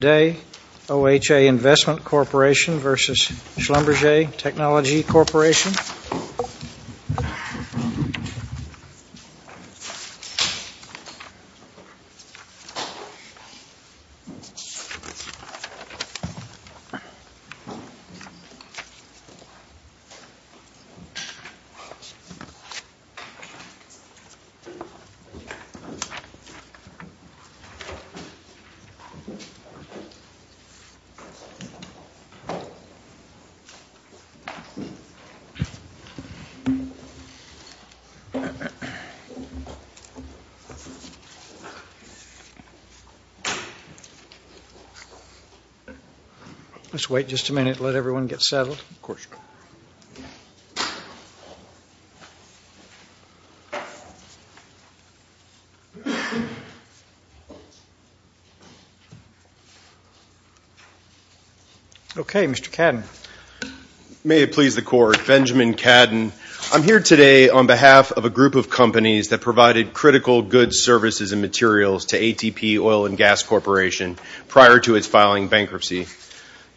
Day, OHA Investment Corporation v. Schlumberger Technology Corporation. Let's wait just a minute and let everyone get settled. Okay, Mr. Cadden. May it please the Court. Benjamin Cadden. I'm here today on behalf of a group of companies that provided critical goods, services and materials to ATP Oil & Gas prior to its filing bankruptcy.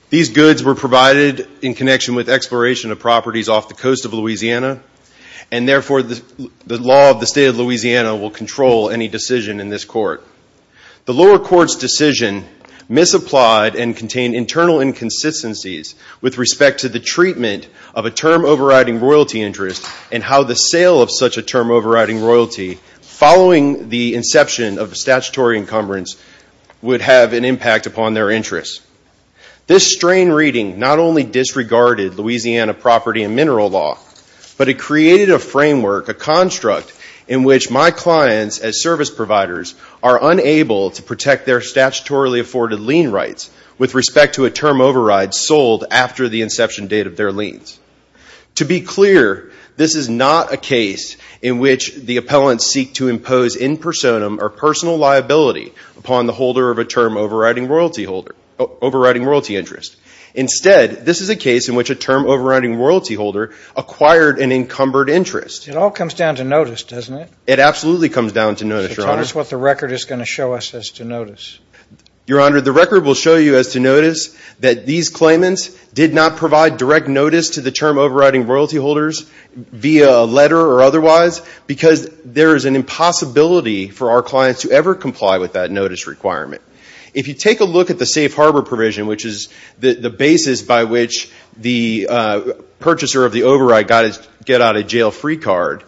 These goods were provided in connection with exploration of properties off the coast of Louisiana, and therefore the law of the State of Louisiana will control any decision in this Court. The lower Court's decision misapplied and contained internal inconsistencies with respect to the treatment of a term overriding royalty interest and how the sale of such a term overriding royalty following the inception of the statutory encumbrance would have an impact upon their interests. This strain reading not only disregarded Louisiana property and mineral law, but it created a framework, a construct, in which my clients as service providers are unable to protect their statutorily afforded lien rights with respect to a term override sold after the inception date of their liens. To be clear, this is not a case in which the appellants seek to impose in personam or personal liability upon the holder of a term overriding royalty interest. Instead, this is a case in which a term overriding royalty holder acquired an encumbered interest. It all comes down to notice, doesn't it? It absolutely comes down to notice, Your Honor. So tell us what the record is going to show us as to notice. Your Honor, the record will show you as to notice that these claimants did not provide direct notice to the term overriding royalty holders via letter or otherwise because there is an impossibility for our clients to ever comply with that notice requirement. If you take a look at the safe harbor provision, which is the basis by which the purchaser of the override got to get out of jail free card,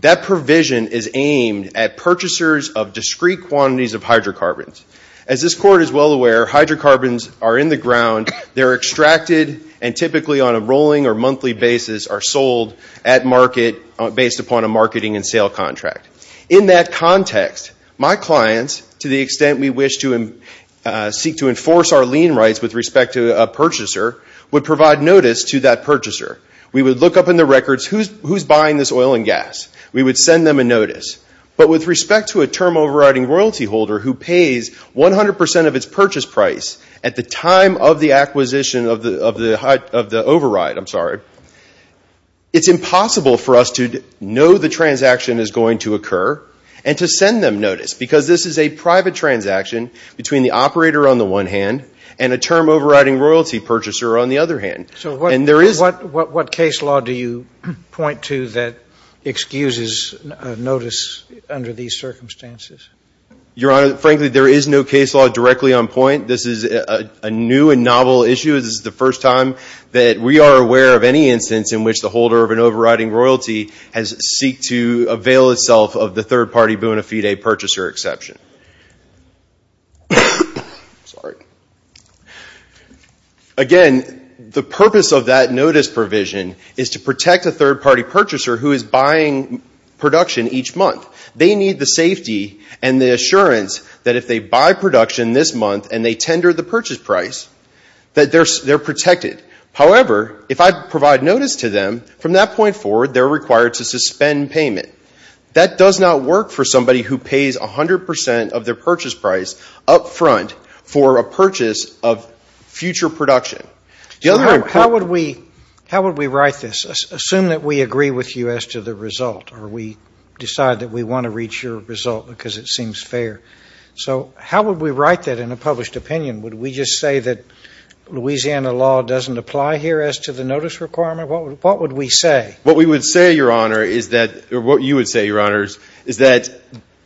that provision is aimed at purchasers of discrete quantities of hydrocarbons. As this Court is well aware, hydrocarbons are in the ground, they're extracted, and typically on a rolling or monthly basis are sold at a marketing and sale contract. In that context, my clients, to the extent we wish to seek to enforce our lien rights with respect to a purchaser, would provide notice to that purchaser. We would look up in the records who's buying this oil and gas. We would send them a notice. But with respect to a term overriding royalty holder who pays 100 percent of its purchase price at the time of the acquisition of the override, I'm sorry, it's impossible for us to know the transaction is going to occur and to send them notice because this is a private transaction between the operator on the one hand and a term overriding royalty purchaser on the other hand. So what case law do you point to that excuses notice under these circumstances? Your Honor, frankly, there is no case law directly on point. This is a new and novel issue. This is the first time that we are aware of any instance in which the holder of an overriding royalty has seeked to avail itself of the third-party bona fide purchaser exception. Again, the purpose of that notice provision is to protect a third-party purchaser who is buying production each month. They need the safety and the assurance that if they buy production this month and they tender the purchase price, that they're protected. However, if I provide notice to them, from that point forward, they're required to suspend payment. That does not work for somebody who pays 100 percent of their purchase price up front for a purchase of future production. How would we write this? Assume that we agree with you as to the result or we decide that we want to reach your result because it seems fair. So how would we write that in a published opinion? Would we just say that Louisiana law doesn't apply here as to the notice requirement? What would we say? What we would say, Your Honor, is that, or what you would say, Your Honors, is that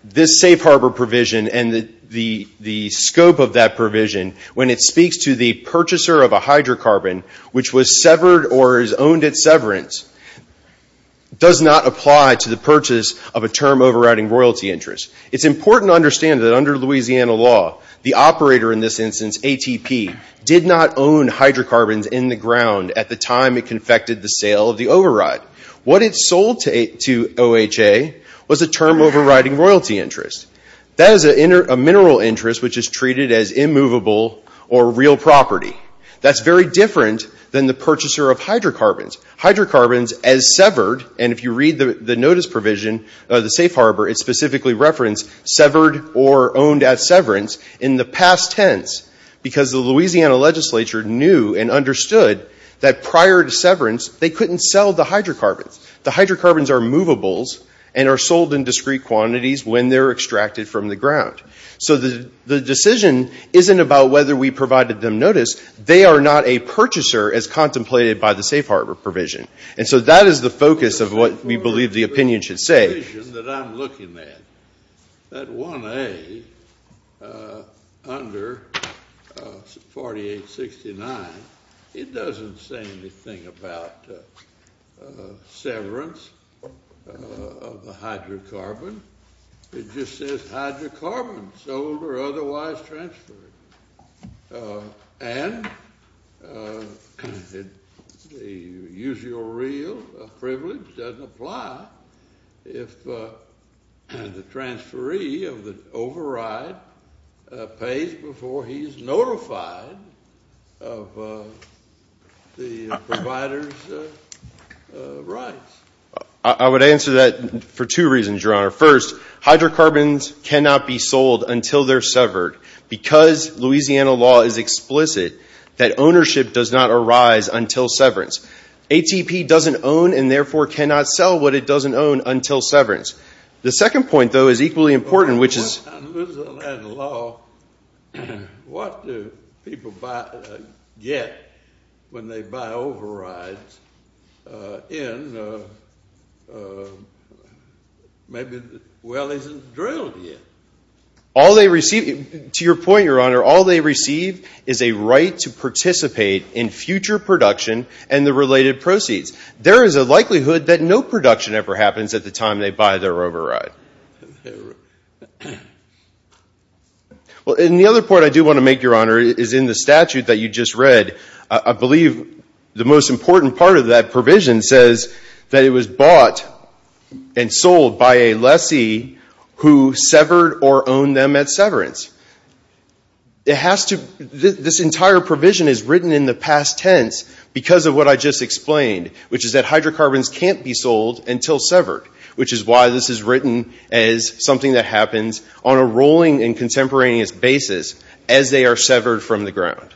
this safe harbor provision and the scope of that provision, when it speaks to the purchaser of a hydrocarbon which was severed or is owned at severance, does not apply to the purchase of a term overriding royalty interest. It's important to understand that under Louisiana law, the operator in this instance, ATP, did not own hydrocarbons in the ground at the time it confected the sale of the override. What it sold to OHA was a term overriding royalty interest. That is a mineral interest which is treated as immovable or real property. That's very different than the purchaser of hydrocarbons. Hydrocarbons as severed, and if you read the notice provision of the safe harbor, it specifically referenced severed or owned at severance in the past tense because the Louisiana legislature knew and understood that prior to severance, they couldn't sell the hydrocarbons. The hydrocarbons are movables and are sold in discrete quantities when they're The decision isn't about whether we provided them notice. They are not a purchaser as contemplated by the safe harbor provision. And so that is the focus of what we believe the opinion should say. The provision that I'm looking at, that 1A under 4869, it doesn't say anything about severance of the hydrocarbon. It just says hydrocarbons, sold or otherwise transferred. And the usual real privilege doesn't apply if the transferee of the override pays before he's notified of the provider's rights. I would answer that for two reasons, Your Honor. First, hydrocarbons cannot be sold until they're severed because Louisiana law is explicit that ownership does not arise until severance. ATP doesn't own and therefore cannot sell what it doesn't own until severance. The second point, though, is equally important, which is Louisiana law, what do people get when they buy overrides in maybe the well isn't drilled yet? All they receive, to your point, Your Honor, all they receive is a right to participate in future production and the related proceeds. There is a likelihood that no production ever Well, and the other point I do want to make, Your Honor, is in the statute that you just read. I believe the most important part of that provision says that it was bought and sold by a lessee who severed or owned them at severance. This entire provision is written in the past tense because of what I just explained, which is that hydrocarbons can't be sold until severed, which is why this is written as something that happens on a rolling and contemporaneous basis as they are severed from the ground.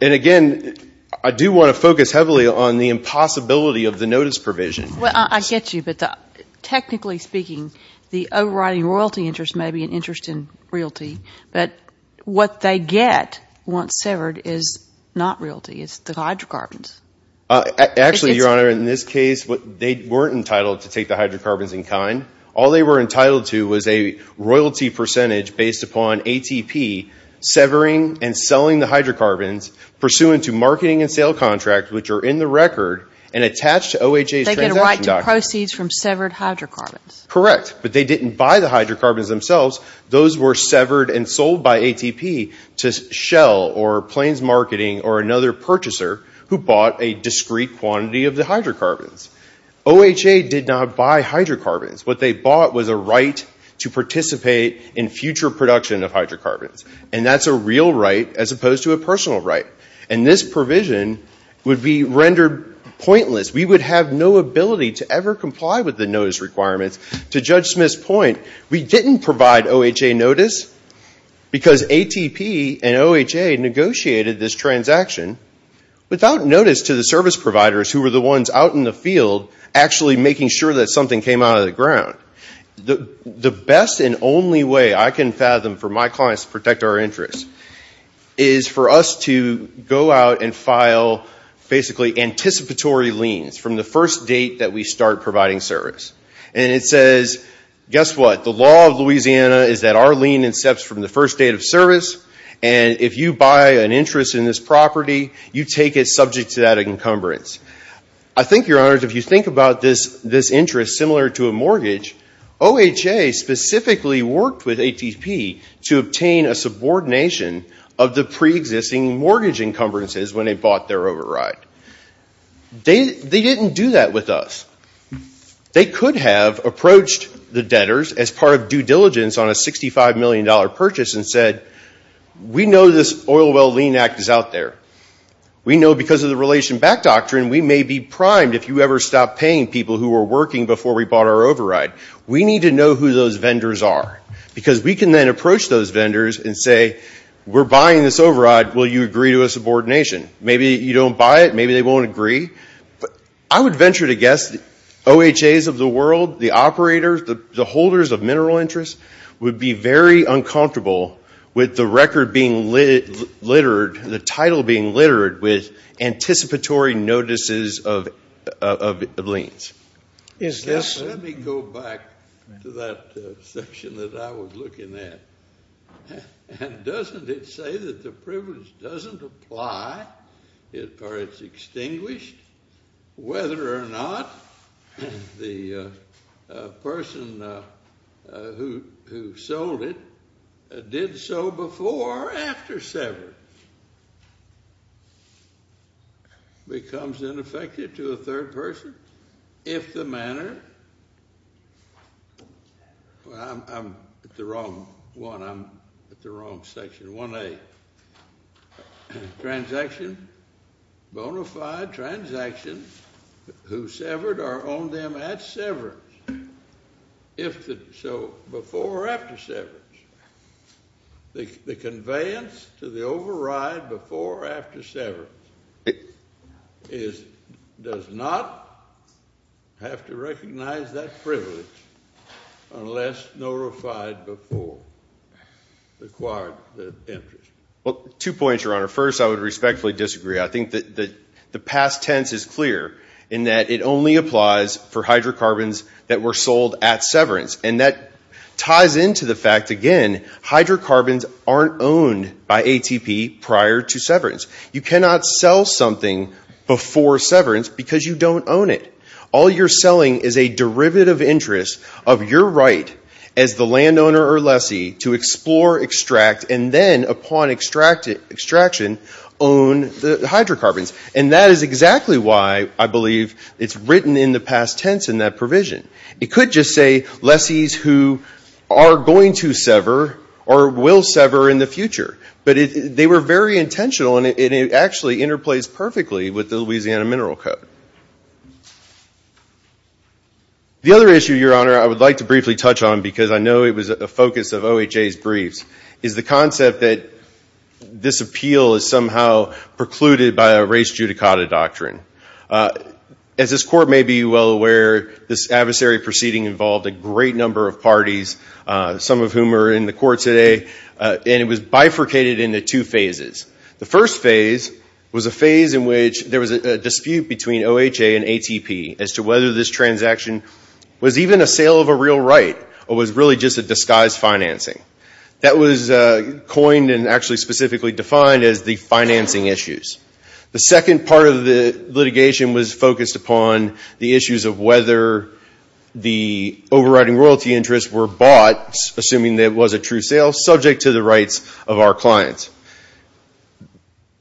And again, I do want to focus heavily on the impossibility of the notice provision. Well, I get you, but technically speaking, the overriding royalty interest may be an interest in realty, but what they get once severed is not realty. It's the hydrocarbons. Actually, Your Honor, in this case, they weren't entitled to take the hydrocarbons in kind. All they were entitled to was a royalty percentage based upon ATP severing and selling the hydrocarbons pursuant to marketing and sale contracts, which are in the record and attached to OHA's transaction documents. They get a right to proceeds from severed hydrocarbons. Correct, but they didn't buy the hydrocarbons themselves. Those were severed and sold by ATP to Shell or Plains Marketing or another purchaser who bought a discrete quantity of the hydrocarbons. OHA did not buy hydrocarbons. What they bought was a right to participate in future production of hydrocarbons, and that's a real right as opposed to a personal right. And this provision would be rendered pointless. We would have no ability to ever comply with the notice requirements. To Judge Smith's point, we didn't provide OHA notice because ATP and OHA negotiated this transaction without notice to the service providers who were the ones out in the field actually making sure that something came out of the ground. The best and only way I can fathom for my clients to protect our interests is for us to go out and file basically anticipatory liens from the first date that we start providing service. And it says, guess what, the law of Louisiana is that our lien incepts from the first date of service, and if you buy an interest in this property, you take it I think, Your Honors, if you think about this interest similar to a mortgage, OHA specifically worked with ATP to obtain a subordination of the pre-existing mortgage encumbrances when they bought their override. They didn't do that with us. They could have approached the debtors as part of due diligence on a $65 million purchase and said, we know this relation back doctrine. We may be primed if you ever stop paying people who were working before we bought our override. We need to know who those vendors are because we can then approach those vendors and say, we're buying this override. Will you agree to a subordination? Maybe you don't buy it. Maybe they won't agree. I would venture to guess the OHAs of the world, the operators, the holders of mineral interests would be very uncomfortable with the record being littered, the title being littered with anticipatory notices of liens. Let me go back to that section that I was looking at. Doesn't it say that the privilege doesn't apply for its extinguished? Whether or not the person who is the owner of the property, who sold it, did so before or after severance becomes ineffective to a third person if the manner, well, I'm at the wrong one. I'm at the wrong section, 1A. Transaction, bona fide transaction, who severed or owned them at severance, if the, so before or after severance. The conveyance to the override before or after severance is, does not have to recognize that privilege unless notified before, required the interest. Well, two points, Your Honor. First, I would respectfully disagree. I think that the past tense is clear in that it only applies for hydrocarbons that were sold at severance. And that ties into the fact, again, hydrocarbons aren't owned by ATP prior to severance. You cannot sell something before severance because you don't own it. All you're selling is a derivative interest of your right as the landowner or lessee to explore, extract, and then upon extraction own the hydrocarbons. And that is exactly why I believe it's written in the licensees who are going to sever or will sever in the future. But they were very intentional and it actually interplays perfectly with the Louisiana Mineral Code. The other issue, Your Honor, I would like to briefly touch on because I know it was a focus of OHA's briefs, is the concept that this appeal is somehow precluded by a race judicata doctrine. As this Court may be well aware, this adversary proceeding involved a great number of parties, some of whom are in the Court today, and it was bifurcated into two phases. The first phase was a phase in which there was a dispute between OHA and ATP as to whether this transaction was even a sale of a real right or was really just a disguise financing. That was coined and actually specifically defined as the financing issues. The second part of the litigation was focused upon the issues of whether the overriding royalty interests were bought, assuming that it was a true sale, subject to the rights of our clients.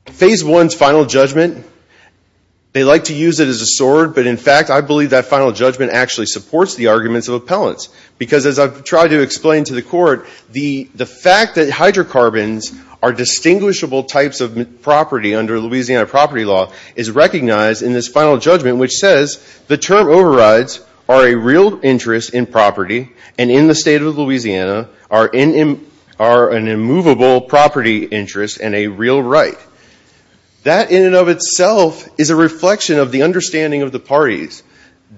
Phase one's final judgment, they like to use it as a sword, but in fact I believe that final judgment actually supports the arguments of appellants. Because as I've tried to explain to the Court, the fact that hydrocarbons are distinguishable types of property under Louisiana property law is recognized in this final judgment, which says the term overrides are a real interest in property and in the state of Louisiana are an immovable property interest and a real right. That in and of itself is a reflection of the understanding of the parties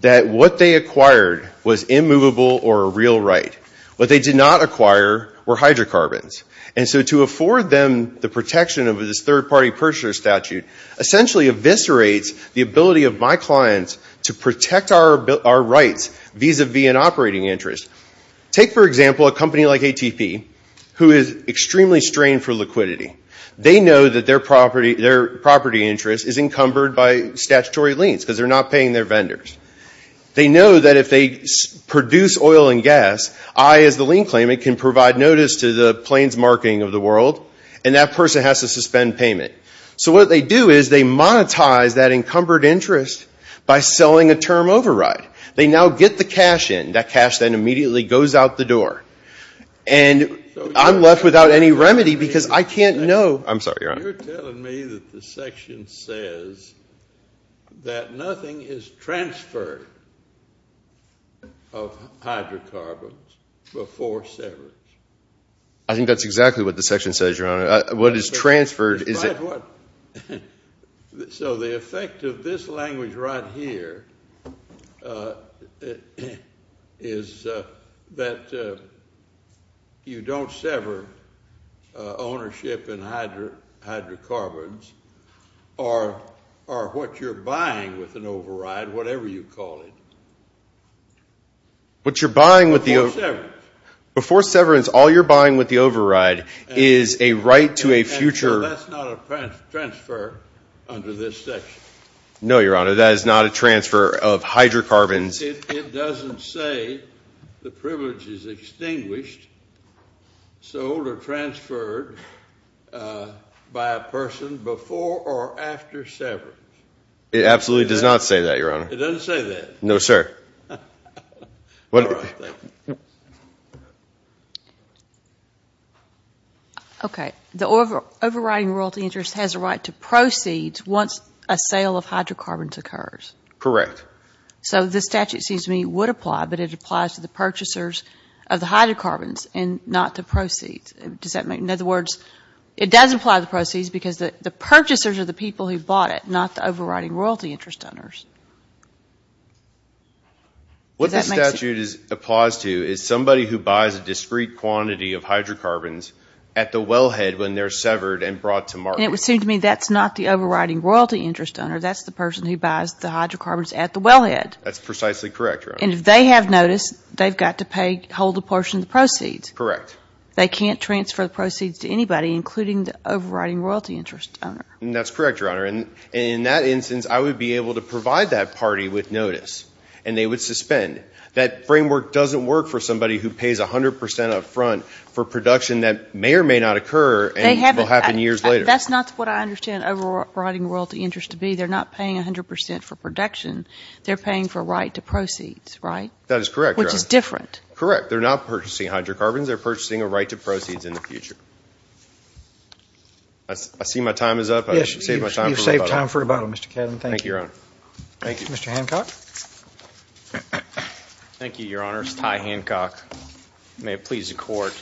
that what they acquired was immovable or a real right. What they did not acquire were hydrocarbons. And so to afford them the protection of this third party purchaser statute essentially eviscerates the ability of my clients to protect our rights vis-a-vis an operating interest. Take, for example, a company like ATP, who is extremely strained for liquidity. They know that their property interest is encumbered by statutory liens because they're not paying their vendors. They know that if they produce oil and gas, I as the lien claimant can provide notice to the plains marketing of the world and that person has to suspend payment. So what they do is they monetize that encumbered interest by selling a term override. They now get the cash in. That cash then immediately goes out the door. And I'm left without any remedy because I can't know. I'm sorry, Your Honor. You're telling me that the section says that nothing is transferred of hydrocarbons before severance. I think that's exactly what the section says, Your Honor. What is transferred is that- So the effect of this language right here is that you don't sever ownership in hydrocarbons or what you're buying with an override, whatever you call it. What you're buying with the- Before severance. Before severance. All you're buying with the override is a right to a future- And so that's not a transfer under this section? No, Your Honor. That is not a transfer of hydrocarbons. It doesn't say the privilege is extinguished, sold, or transferred by a person before or after severance. It absolutely does not say that, Your Honor. It doesn't say that? No, sir. All right. Thank you. Okay. The overriding royalty interest has a right to proceeds once a sale of hydrocarbons occurs. Correct. So this statute, it seems to me, would apply, but it applies to the purchasers of the hydrocarbons and not the proceeds. In other words, it does apply to the proceeds because the purchasers are the people who bought it, not the overriding royalty interest owners. What the statute applies to is somebody who buys a discrete quantity of hydrocarbons at the wellhead when they're severed and brought to market. And it would seem to me that's not the overriding royalty interest owner. That's the person who buys the hydrocarbons at the wellhead. That's precisely correct, Your Honor. And if they have notice, they've got to pay, hold a portion of the proceeds. Correct. They can't transfer the proceeds to anybody, including the overriding royalty interest owner. notice. And they would suspend. That framework doesn't work for somebody who pays 100 percent up front for production that may or may not occur and will happen years later. That's not what I understand overriding royalty interest to be. They're not paying 100 percent for production. They're paying for a right to proceeds, right? That is correct, Your Honor. Which is different. Correct. They're not purchasing hydrocarbons. They're purchasing a right to proceeds in the future. I see my time is up. I should save my time for rebuttal. Yes, you've saved time for rebuttal, Mr. Kedem. Thank you. Thank you, Your Honor. Thank you. Mr. Hancock. Thank you, Your Honors. Ty Hancock. May it please the Court.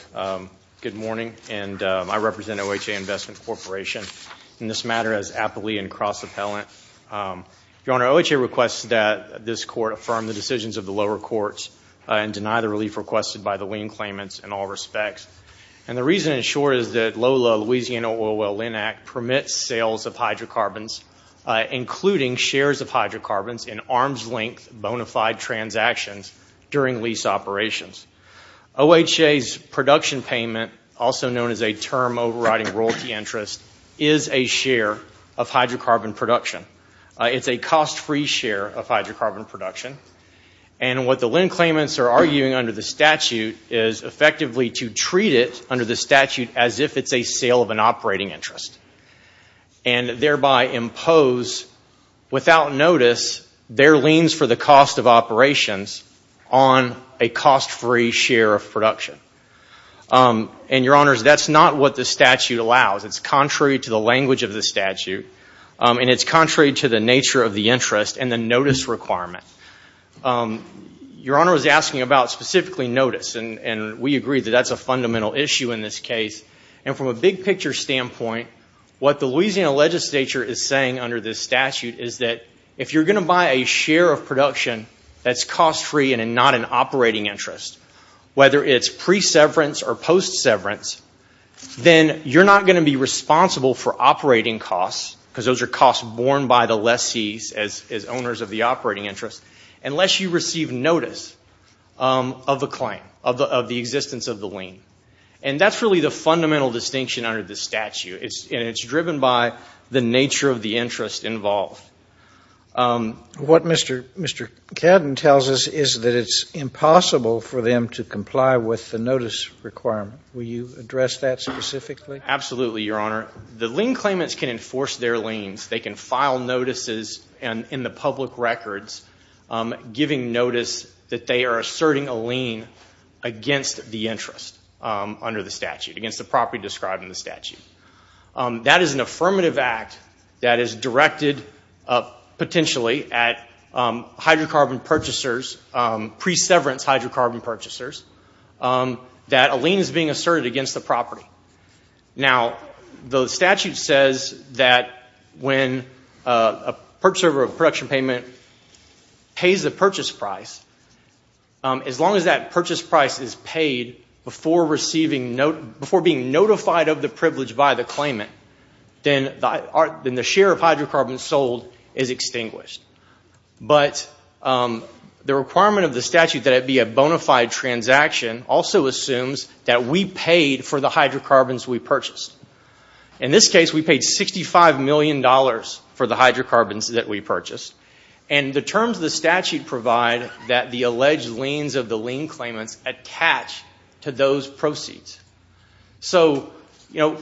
Good morning. And I represent OHA Investment Corporation. In this matter, as appellee and cross-appellant, Your Honor, OHA requests that this Court affirm the decisions of the lower courts and deny the relief requested by the lien claimants in all respects. And the reason, in short, is that LOLA, Louisiana Oil Well Lien Act, permits sales of hydrocarbons, including shares of hydrocarbons, in arm's-length bona fide transactions during lease operations. OHA's production payment, also known as a term overriding royalty interest, is a share of hydrocarbon production. It's a cost-free share of hydrocarbon production. And what the lien claimants are arguing under the statute is, effectively, to treat it, under the statute, as if it's a sale of an operating interest, and thereby impose, without notice, their liens for the cost of operations on a cost-free share of production. And, Your Honors, that's not what the statute allows. It's contrary to the language of the statute, and it's contrary to the nature of the interest and the notice requirement. Your Honor was asking about specifically notice, and we agree that that's a fundamental issue in this case. And from a big-picture standpoint, what the Louisiana legislature is saying under this statute is that, if you're going to buy a share of production that's cost-free and not an operating interest, whether it's pre-severance or post-severance, then you're not going to be responsible for operating costs, because those are costs borne by the lessees as owners of the operating interest, unless you receive notice of the claim, of the existence of the lien. And that's really the fundamental distinction under this statute, and it's driven by the nature of the interest involved. What Mr. Cadden tells us is that it's impossible for them to comply with the notice requirement. Will you address that specifically? Absolutely, Your Honor. The lien claimants can enforce their liens. They can file notices in the public records, giving notice that they are asserting a lien against the interest under the statute, against the property described in the statute. That is an affirmative act that is directed, potentially, at hydrocarbon purchasers, pre-severance hydrocarbon purchasers, that a lien is being asserted against the property. Now, the statute says that when a purchaser of a production payment pays the purchase price, as long as that purchase price is paid before being notified of the privilege by the claimant, then the share of hydrocarbons sold is extinguished. But the requirement of the statute that it be a bona fide transaction also assumes that we paid for the hydrocarbons we purchased. In this case, we paid $65 million for the hydrocarbons that we purchased. And the terms of the statute provide that the alleged liens of the lien claimants attach to those proceeds. So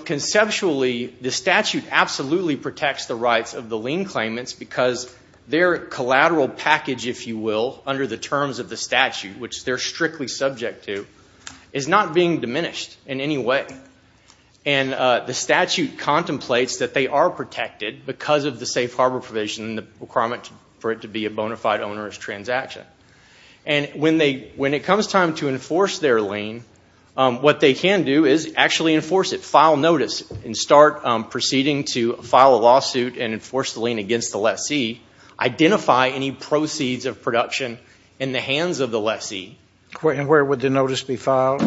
conceptually, the statute absolutely protects the rights of the lien claimants because their collateral package, if you will, under the terms of the statute, which they're strictly subject to, is not being diminished in any way. And the statute contemplates that they are protected because of the safe harbor provision and the requirement for it to be a bona fide onerous transaction. And when it comes time to enforce their lien, what they can do is actually enforce it. File notice and start proceeding to file a lawsuit and enforce the lien against the lessee. Identify any proceeds of production in the hands of the lessee. And where would the notice be filed?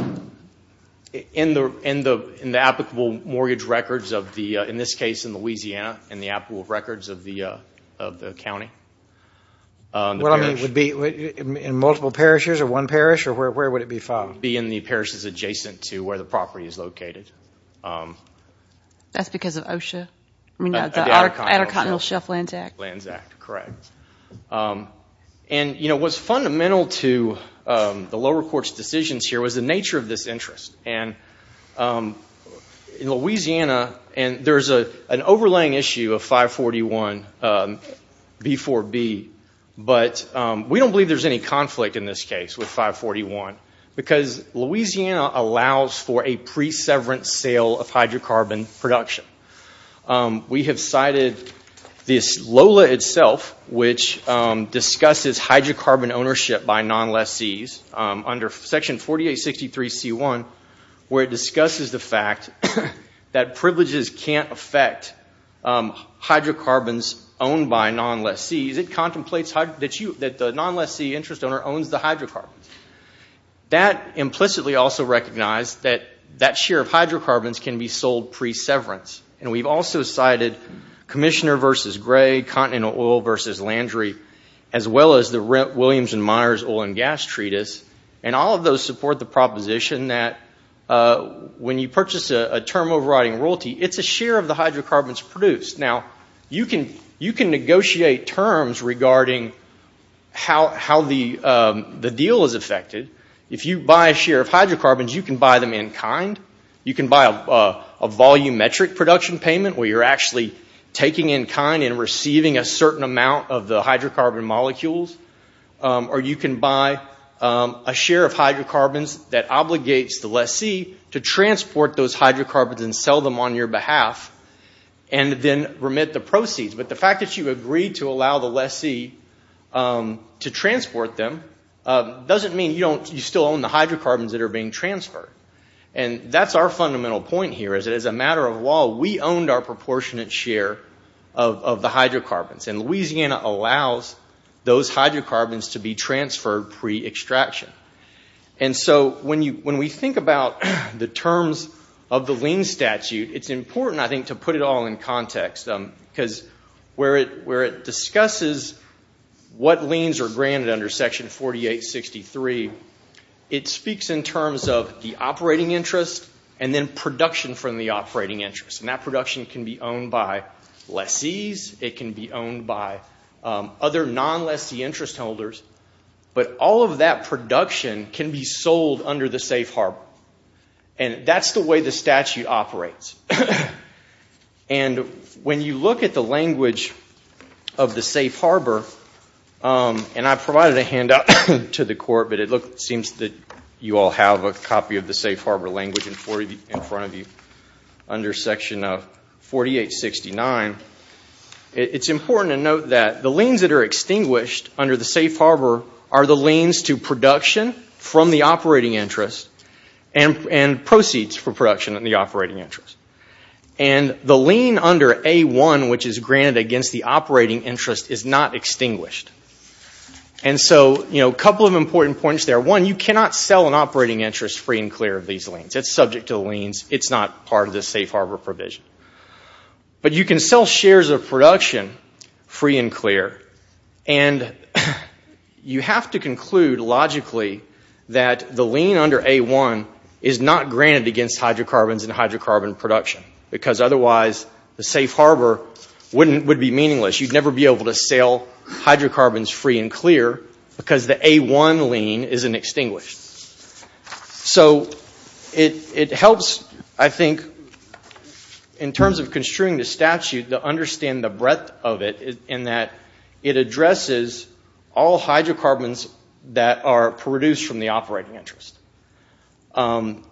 In the applicable mortgage records of the, in this case, in Louisiana, in the applicable records of the county. Well, I mean, would it be in multiple parishes or one parish, or where would it be filed? Be in the parishes adjacent to where the property is located. That's because of OSHA? I mean, the Addercott and Hill Shelf Lands Act? Lands Act, correct. And, you know, what's fundamental to the lower court's decisions here was the nature of this interest. And in Louisiana, and there's an overlaying issue of 541b4b, but we don't believe there's any conflict in this case with 541, because Louisiana allows for a pre-severance sale of hydrocarbon production. We have cited this LOLA itself, which discusses hydrocarbon ownership by non-lessees under section 4863c1, where it discusses the fact that privileges can't affect hydrocarbons owned by non-lessees. It contemplates that the non-lessee interest owner owns the hydrocarbons. That implicitly also recognized that that share of hydrocarbons can be sold pre-severance. And we've also cited Commissioner v. Gray, Continental Oil v. Landry, as well as the Williams and Myers Oil and Gas Treatise, and all of those support the proposition that when you purchase a term overriding royalty, it's a share of the hydrocarbons produced. Now, you can negotiate terms regarding how the deal is affected. If you buy a share of hydrocarbons, you can buy them in kind. You can buy a volumetric production payment, where you're actually taking in kind and receiving a certain amount of the hydrocarbon molecules. Or you can buy a share of hydrocarbons that obligates the lessee to transport those hydrocarbons and sell them on your behalf, and then remit the proceeds. But the fact that you agree to allow the lessee to transport them doesn't mean you still own the hydrocarbons that are being transferred. And that's our fundamental point here, is that as a matter of law, we owned our proportionate share of the hydrocarbons. And Louisiana allows those hydrocarbons to be transferred pre-extraction. And so when we think about the terms of the lien statute, it's important, I think, to put it all in context. Because where it discusses what liens are granted under Section 4863, it speaks in terms of the operating interest and then production from the operating interest. And that production can be owned by lessees. It can be owned by other non-lessee interest holders. But all of that production can be sold under the safe harbor. And that's the way the statute operates. And when you look at the language of the safe harbor, and I provided a handout to the Court, but it seems that you all have a copy of the safe harbor language in front of you under Section 4869, it's important to note that the liens that are extinguished under the safe harbor are the liens to production from the operating interest and proceeds for production in the operating interest. And the lien under A1, which is granted against the operating interest, is not extinguished. And so, you know, a couple of important points there. One, you cannot sell an operating interest free and clear of these liens. It's subject to the liens. It's not part of the safe harbor provision. But you can sell shares of production free and clear, and you have to conclude logically that the lien under A1 is not granted against hydrocarbons and hydrocarbon production, because otherwise the safe harbor would be meaningless. You'd never be able to sell hydrocarbons free and clear because the A1 lien isn't extinguished. So it helps, I think, in terms of construing the statute to understand the breadth of it in that it addresses all hydrocarbons that are produced from the operating interest. And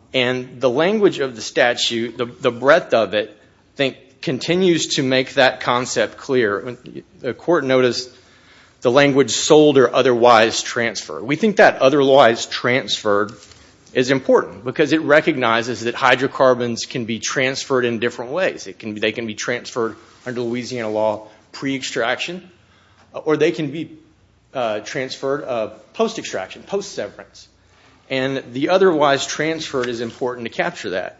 the language of the statute, the breadth of it, I think, continues to make that concept clear. The court noticed the language sold or otherwise transferred. We think that otherwise transferred is important, because it recognizes that hydrocarbons can be transferred in different ways. They can be transferred under Louisiana law pre-extraction, or they can be transferred post-extraction, post-severance. And the otherwise transferred is important to capture that.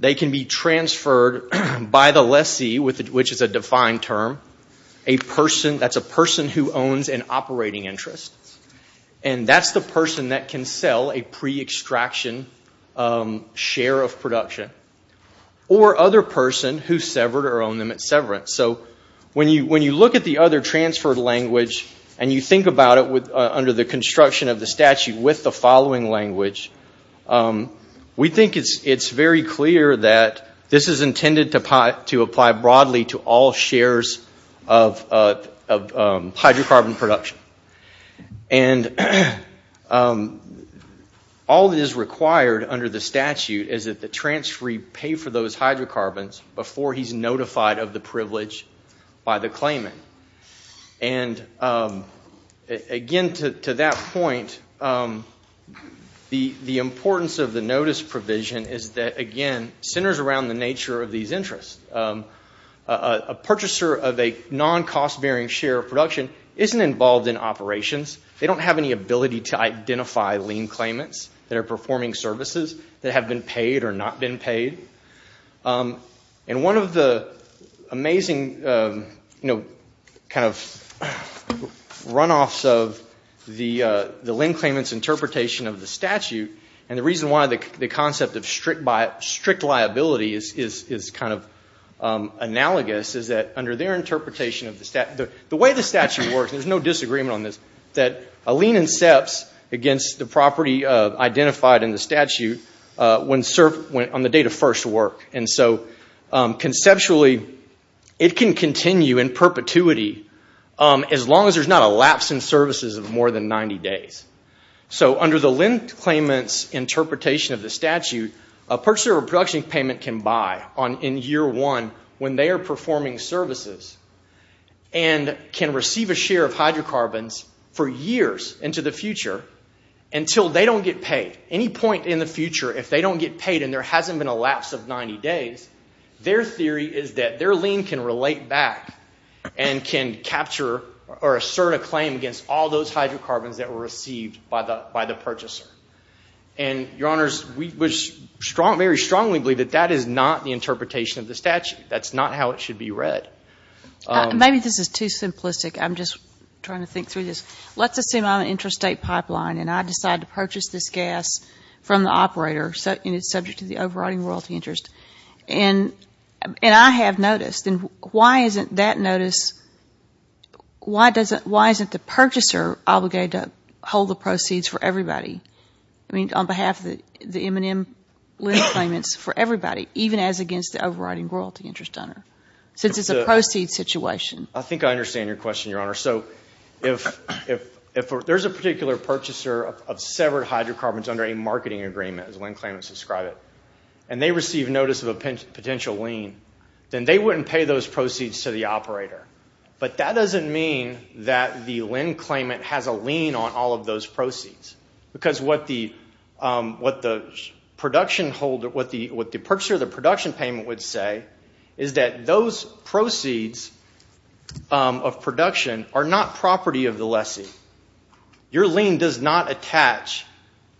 They can be transferred by the lessee, which is a defined term. That's a person who owns an operating interest. And that's the person that can sell a pre-extraction share of production. Or other person who severed or owned them at severance. So when you look at the other transferred language and you think about it under the construction of the statute with the following language, we think it's very clear that this is intended to apply broadly to all shares of hydrocarbon production. And all that is required under the statute is that the transferee pay for those hydrocarbons before he's notified of the privilege by the state. The importance of the notice provision is that, again, it centers around the nature of these interests. A purchaser of a non-cost-bearing share of production isn't involved in operations. They don't have any ability to identify lien claimants that are performing services that have been paid or not been paid. And one of the amazing runoffs of the lien claimants interpretation of the statute, and the reason why the concept of strict liability is kind of analogous, is that under their interpretation of the statute, the way the statute works, there's no disagreement on this, that a lien incepts against the property identified in the statute on the date of first work. And so conceptually, it can continue in perpetuity as long as there's not a lapse in services of more than 90 days. So under the lien claimant's interpretation of the statute, a purchaser of a production payment can buy in year one when they are performing services and can receive a share of hydrocarbons for years into the future until they don't get paid. Any point in the future, if they don't get paid and there hasn't been a lapse of 90 days, their theory is that their lien can relate back and can capture or assert a claim against all those hydrocarbons that were received by the purchaser. And, Your Honors, we very strongly believe that that is not the interpretation of the statute. That's not how it should be read. Maybe this is too simplistic. I'm just trying to think through this. Let's assume I'm an interstate pipeline and I decide to purchase this gas from the operator and it's subject to the overriding royalty interest, and I have notice, then why isn't that notice, why isn't the purchaser obligated to hold the proceeds for everybody? I mean, on behalf of the M&M lien claimants, for everybody, even as against the overriding royalty interest owner, since it's a proceeds situation? I think I understand your question, Your Honor. So if there's a particular purchaser of severed hydrocarbons under a marketing agreement, as lien claimants describe it, and they receive notice of a potential lien, then they wouldn't pay those proceeds to the operator. But that doesn't mean that the lien claimant has a lien on all of those proceeds. Because what the purchaser of the production payment would say is that those proceeds of production are not property of the lessee. Your lien does not attach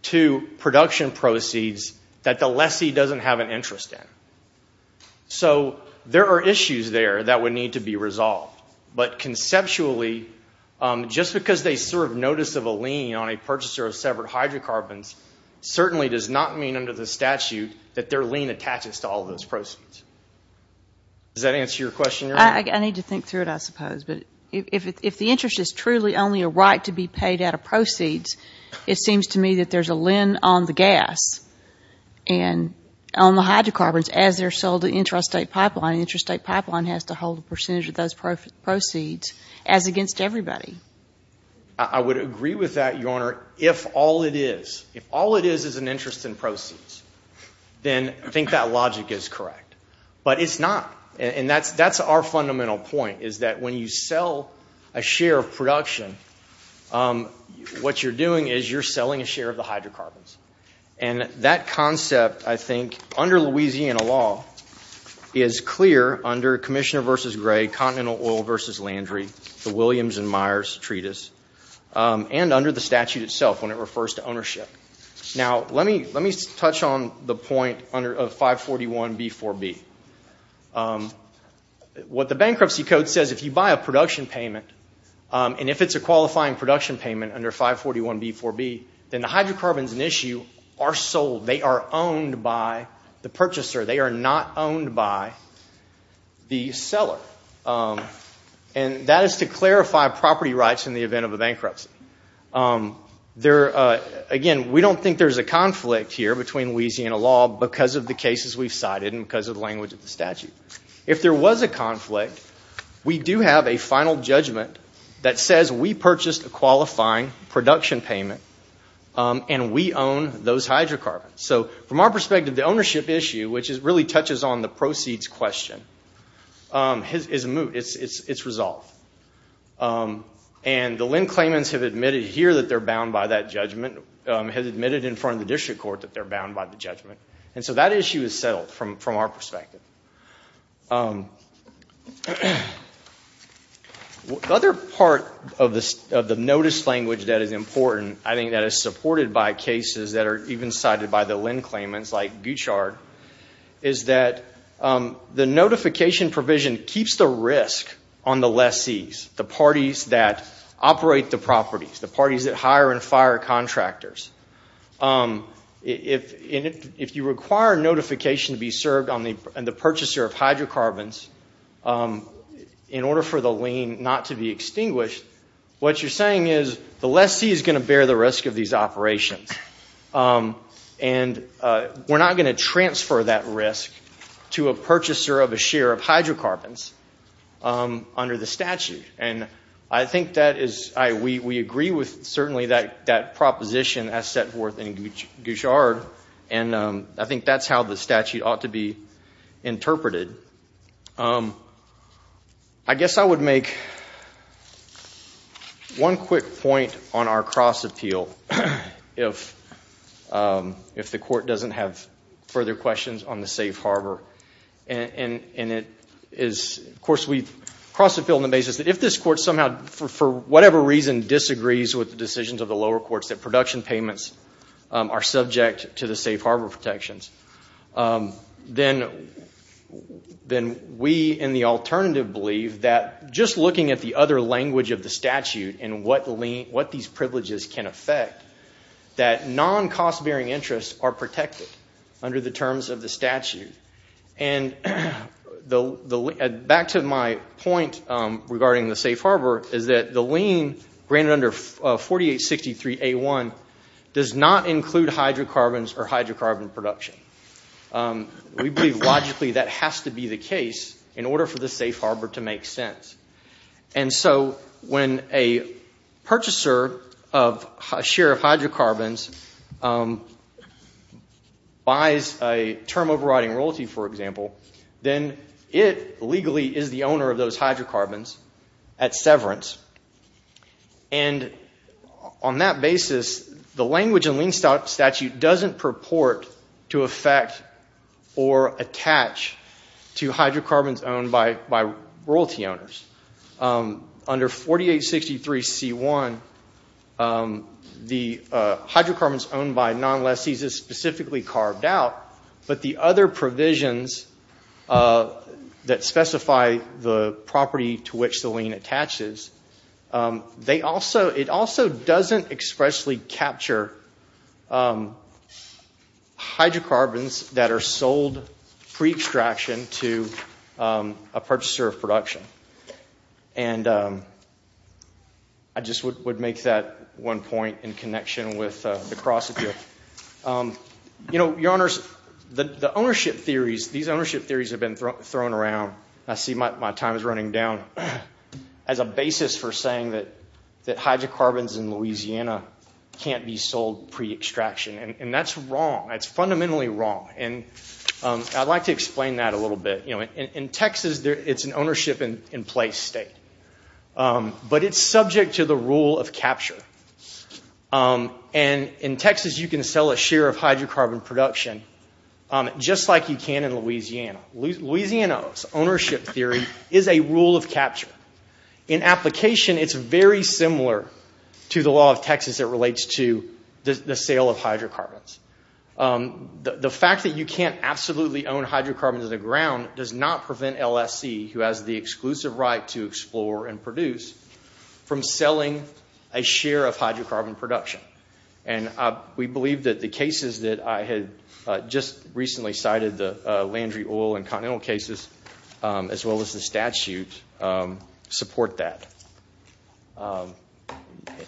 to production proceeds that the lessee doesn't have an interest in. So there are issues there that would need to be resolved. But conceptually, just because they serve notice of a lien on a purchaser of severed hydrocarbons certainly does not mean under the statute that their lien attaches to all of those proceeds. Does that answer your question, Your Honor? I need to think through it, I suppose. But if the interest is truly only a right to be paid out of proceeds, it seems to me that there's a lien on the gas and on the hydrocarbons as they're sold to Interstate Pipeline. Interstate Pipeline has to hold a percentage of those proceeds, as against everybody. I would agree with that, Your Honor, if all it is. If all it is is an interest in proceeds, then I think that logic is correct. But it's not. And that's our fundamental point, is that when you sell a share of production, what you're doing is you're selling a share of the hydrocarbons. And that concept, I think, under Louisiana law, is clear under Commissioner v. Gray, Continental Oil v. Landry, the Williams and Myers Treatise, and under the statute itself when it refers to ownership. Now let me touch on the point of 541B4B. What the bankruptcy code says, if you buy a production payment, and if it's a qualifying production payment under 541B4B, then the hydrocarbons in issue are sold. They are owned by the purchaser. They are not owned by the seller. And that is to clarify property rights in the event of a bankruptcy. Again, we don't think there's a conflict here between Louisiana law because of the cases we've cited and because of the language of the statute. If there was a conflict, we do have a final judgment that says we purchased a qualifying production payment, and we own those hydrocarbons. So from our perspective, the ownership issue, which really touches on the proceeds question, is a moot. It's resolved. And the LEND claimants have admitted here that they're bound by that judgment, have admitted in front of the district court that they're bound by the judgment. And so that issue is settled from our perspective. Other part of the notice language that is important, I think, that is supported by cases that are even cited by the LEND claimants, like Guchard, is that the notification provision keeps the risk on the lessees, the parties that operate the properties, the parties that hire and fire contractors. If you require notification to be served on the purchaser of hydrocarbons in order for the lien not to be extinguished, what you're saying is the lessee is going to bear the risk of these operations, and we're not going to transfer that risk to a purchaser of a share of hydrocarbons under the statute. And I think that is, we agree with certainly that proposition as set forth in Guchard, and I think that's how the statute ought to be interpreted. I guess I would make one quick point on our cross-appeal, if the court doesn't have further questions on the safe harbor. And it is, of course, we cross-appeal on the basis that if this court somehow, for whatever reason, disagrees with the decisions of the lower courts that production payments are subject to the safe harbor protections, then we would in the alternative believe that just looking at the other language of the statute and what these privileges can affect, that non-cost-bearing interests are protected under the terms of the statute. And back to my point regarding the safe harbor, is that the lien granted under 4863A1 does not include hydrocarbons or hydrocarbon production. We believe logically that has to be the case in order for the safe harbor to make sense. And so when a purchaser of a share of hydrocarbons buys a term overriding royalty, for example, then it legally is the owner of those hydrocarbons at severance. And on that basis, the language in lien statute doesn't purport to affect or attach to hydrocarbons owned by royalty owners. Under 4863C1, the hydrocarbons owned by non-lesses is specifically carved out, but the other provisions that specify the property to which the lien attaches, it also doesn't expressly capture the property hydrocarbons that are sold pre-extraction to a purchaser of production. And I just would make that one point in connection with the cross-example. You know, Your Honors, the ownership theories, these ownership theories have been thrown around, I see my time is running down, as a basis for saying that hydrocarbons in Louisiana can't be sold pre-extraction and that's wrong, that's fundamentally wrong. And I'd like to explain that a little bit. In Texas, it's an ownership in place state, but it's subject to the rule of capture. And in Texas, you can sell a share of hydrocarbon production just like you can in Louisiana. Louisiana's ownership theory is a rule of capture. In application, it's very similar to the law of Texas that relates to the sale of hydrocarbons. The fact that you can't absolutely own hydrocarbons in the ground does not prevent LSC, who has the exclusive right to explore and produce, from selling a share of hydrocarbon production. And we believe that the cases that I had just recently cited, the Landry Oil and Continental cases, as well as the statute, support that.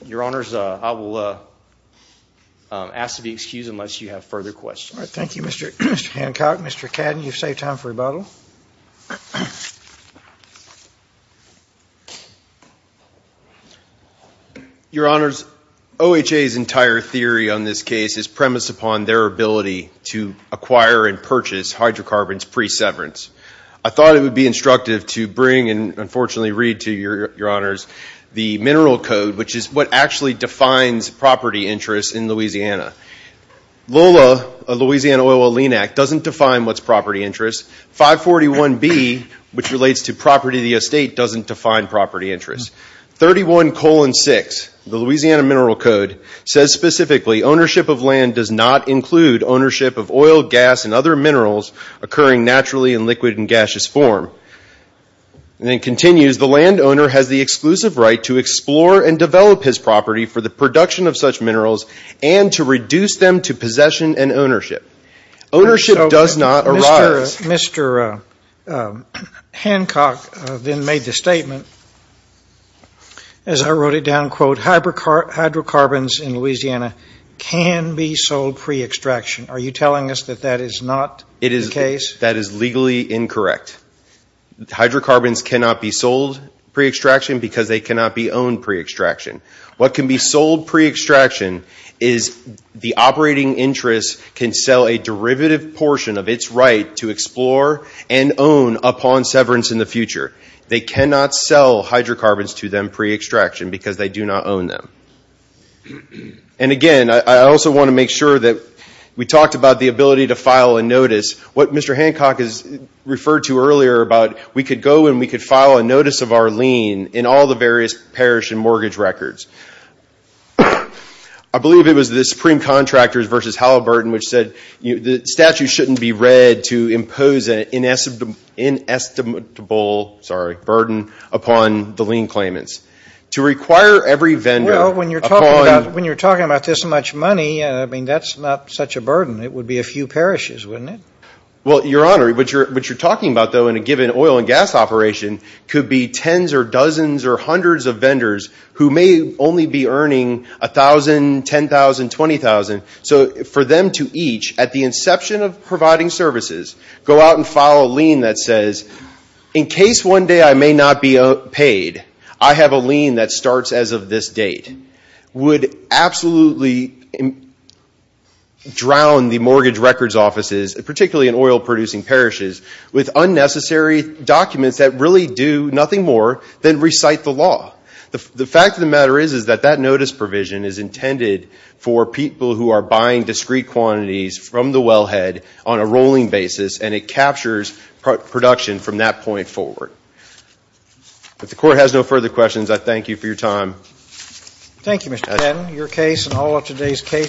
Your Honors, I will ask to be excused unless you have further questions. Thank you, Mr. Hancock. Mr. Cadden, you've saved time for rebuttal. Your Honors, OHA's entire theory on this case is premised upon their ability to acquire and purchase hydrocarbons pre-severance. I thought it would be instructive to bring and unfortunately read to your Honors the Mineral Code, which is what actually defines property interest in Louisiana. LOLA, Louisiana Oil and Lean Act, doesn't define what's property interest. 541B, which relates to property of the estate, doesn't define property interest. 31-6, the Louisiana Mineral Code, says specifically, ownership of land does not include ownership of oil, gas, and other minerals occurring naturally in liquid and gaseous form. And it continues, the landowner has the exclusive right to explore and develop his property for the production of such minerals and to reduce them to possession and ownership. Ownership does not arise. Mr. Hancock then made the statement, as I wrote it down, quote, hydrocarbons in Louisiana can be sold pre-extraction. Are you telling us that that is not the case? That is legally incorrect. Hydrocarbons cannot be sold pre-extraction because they cannot be owned pre-extraction. What can be sold pre-extraction is the operating interest can sell a derivative portion of its right to explore and own upon severance in the future. They cannot sell hydrocarbons to them pre-extraction because they do not own them. And again, I also want to make sure that we talked about the ability to file a notice. What Mr. Hancock has referred to earlier about we could go and we could file a notice of our lien in all the various parish and mortgage records. I believe it was the Supreme Contractors v. Halliburton which said the statute shouldn't be read to impose an inestimable burden upon the lien claimants. Well, when you are talking about this much money, that is not such a burden. It would be a few parishes, wouldn't it? Well, Your Honor, what you are talking about though in a given oil and gas operation could be tens or dozens or hundreds of vendors who may only be earning $1,000, $10,000, $20,000. So for them to each, at the inception of providing services, go out and file a lien that says in case one day I may not be paid, I have a lien that starts as of this date, would absolutely drown the mortgage records offices, particularly in oil producing parishes, with unnecessary documents that really do nothing more than recite the law. The fact of the matter is that that notice provision is intended for people who are buying discrete quantities from the wellhead on a rolling basis and it captures production from that point forward. If the Court has no further questions, I thank you for your time.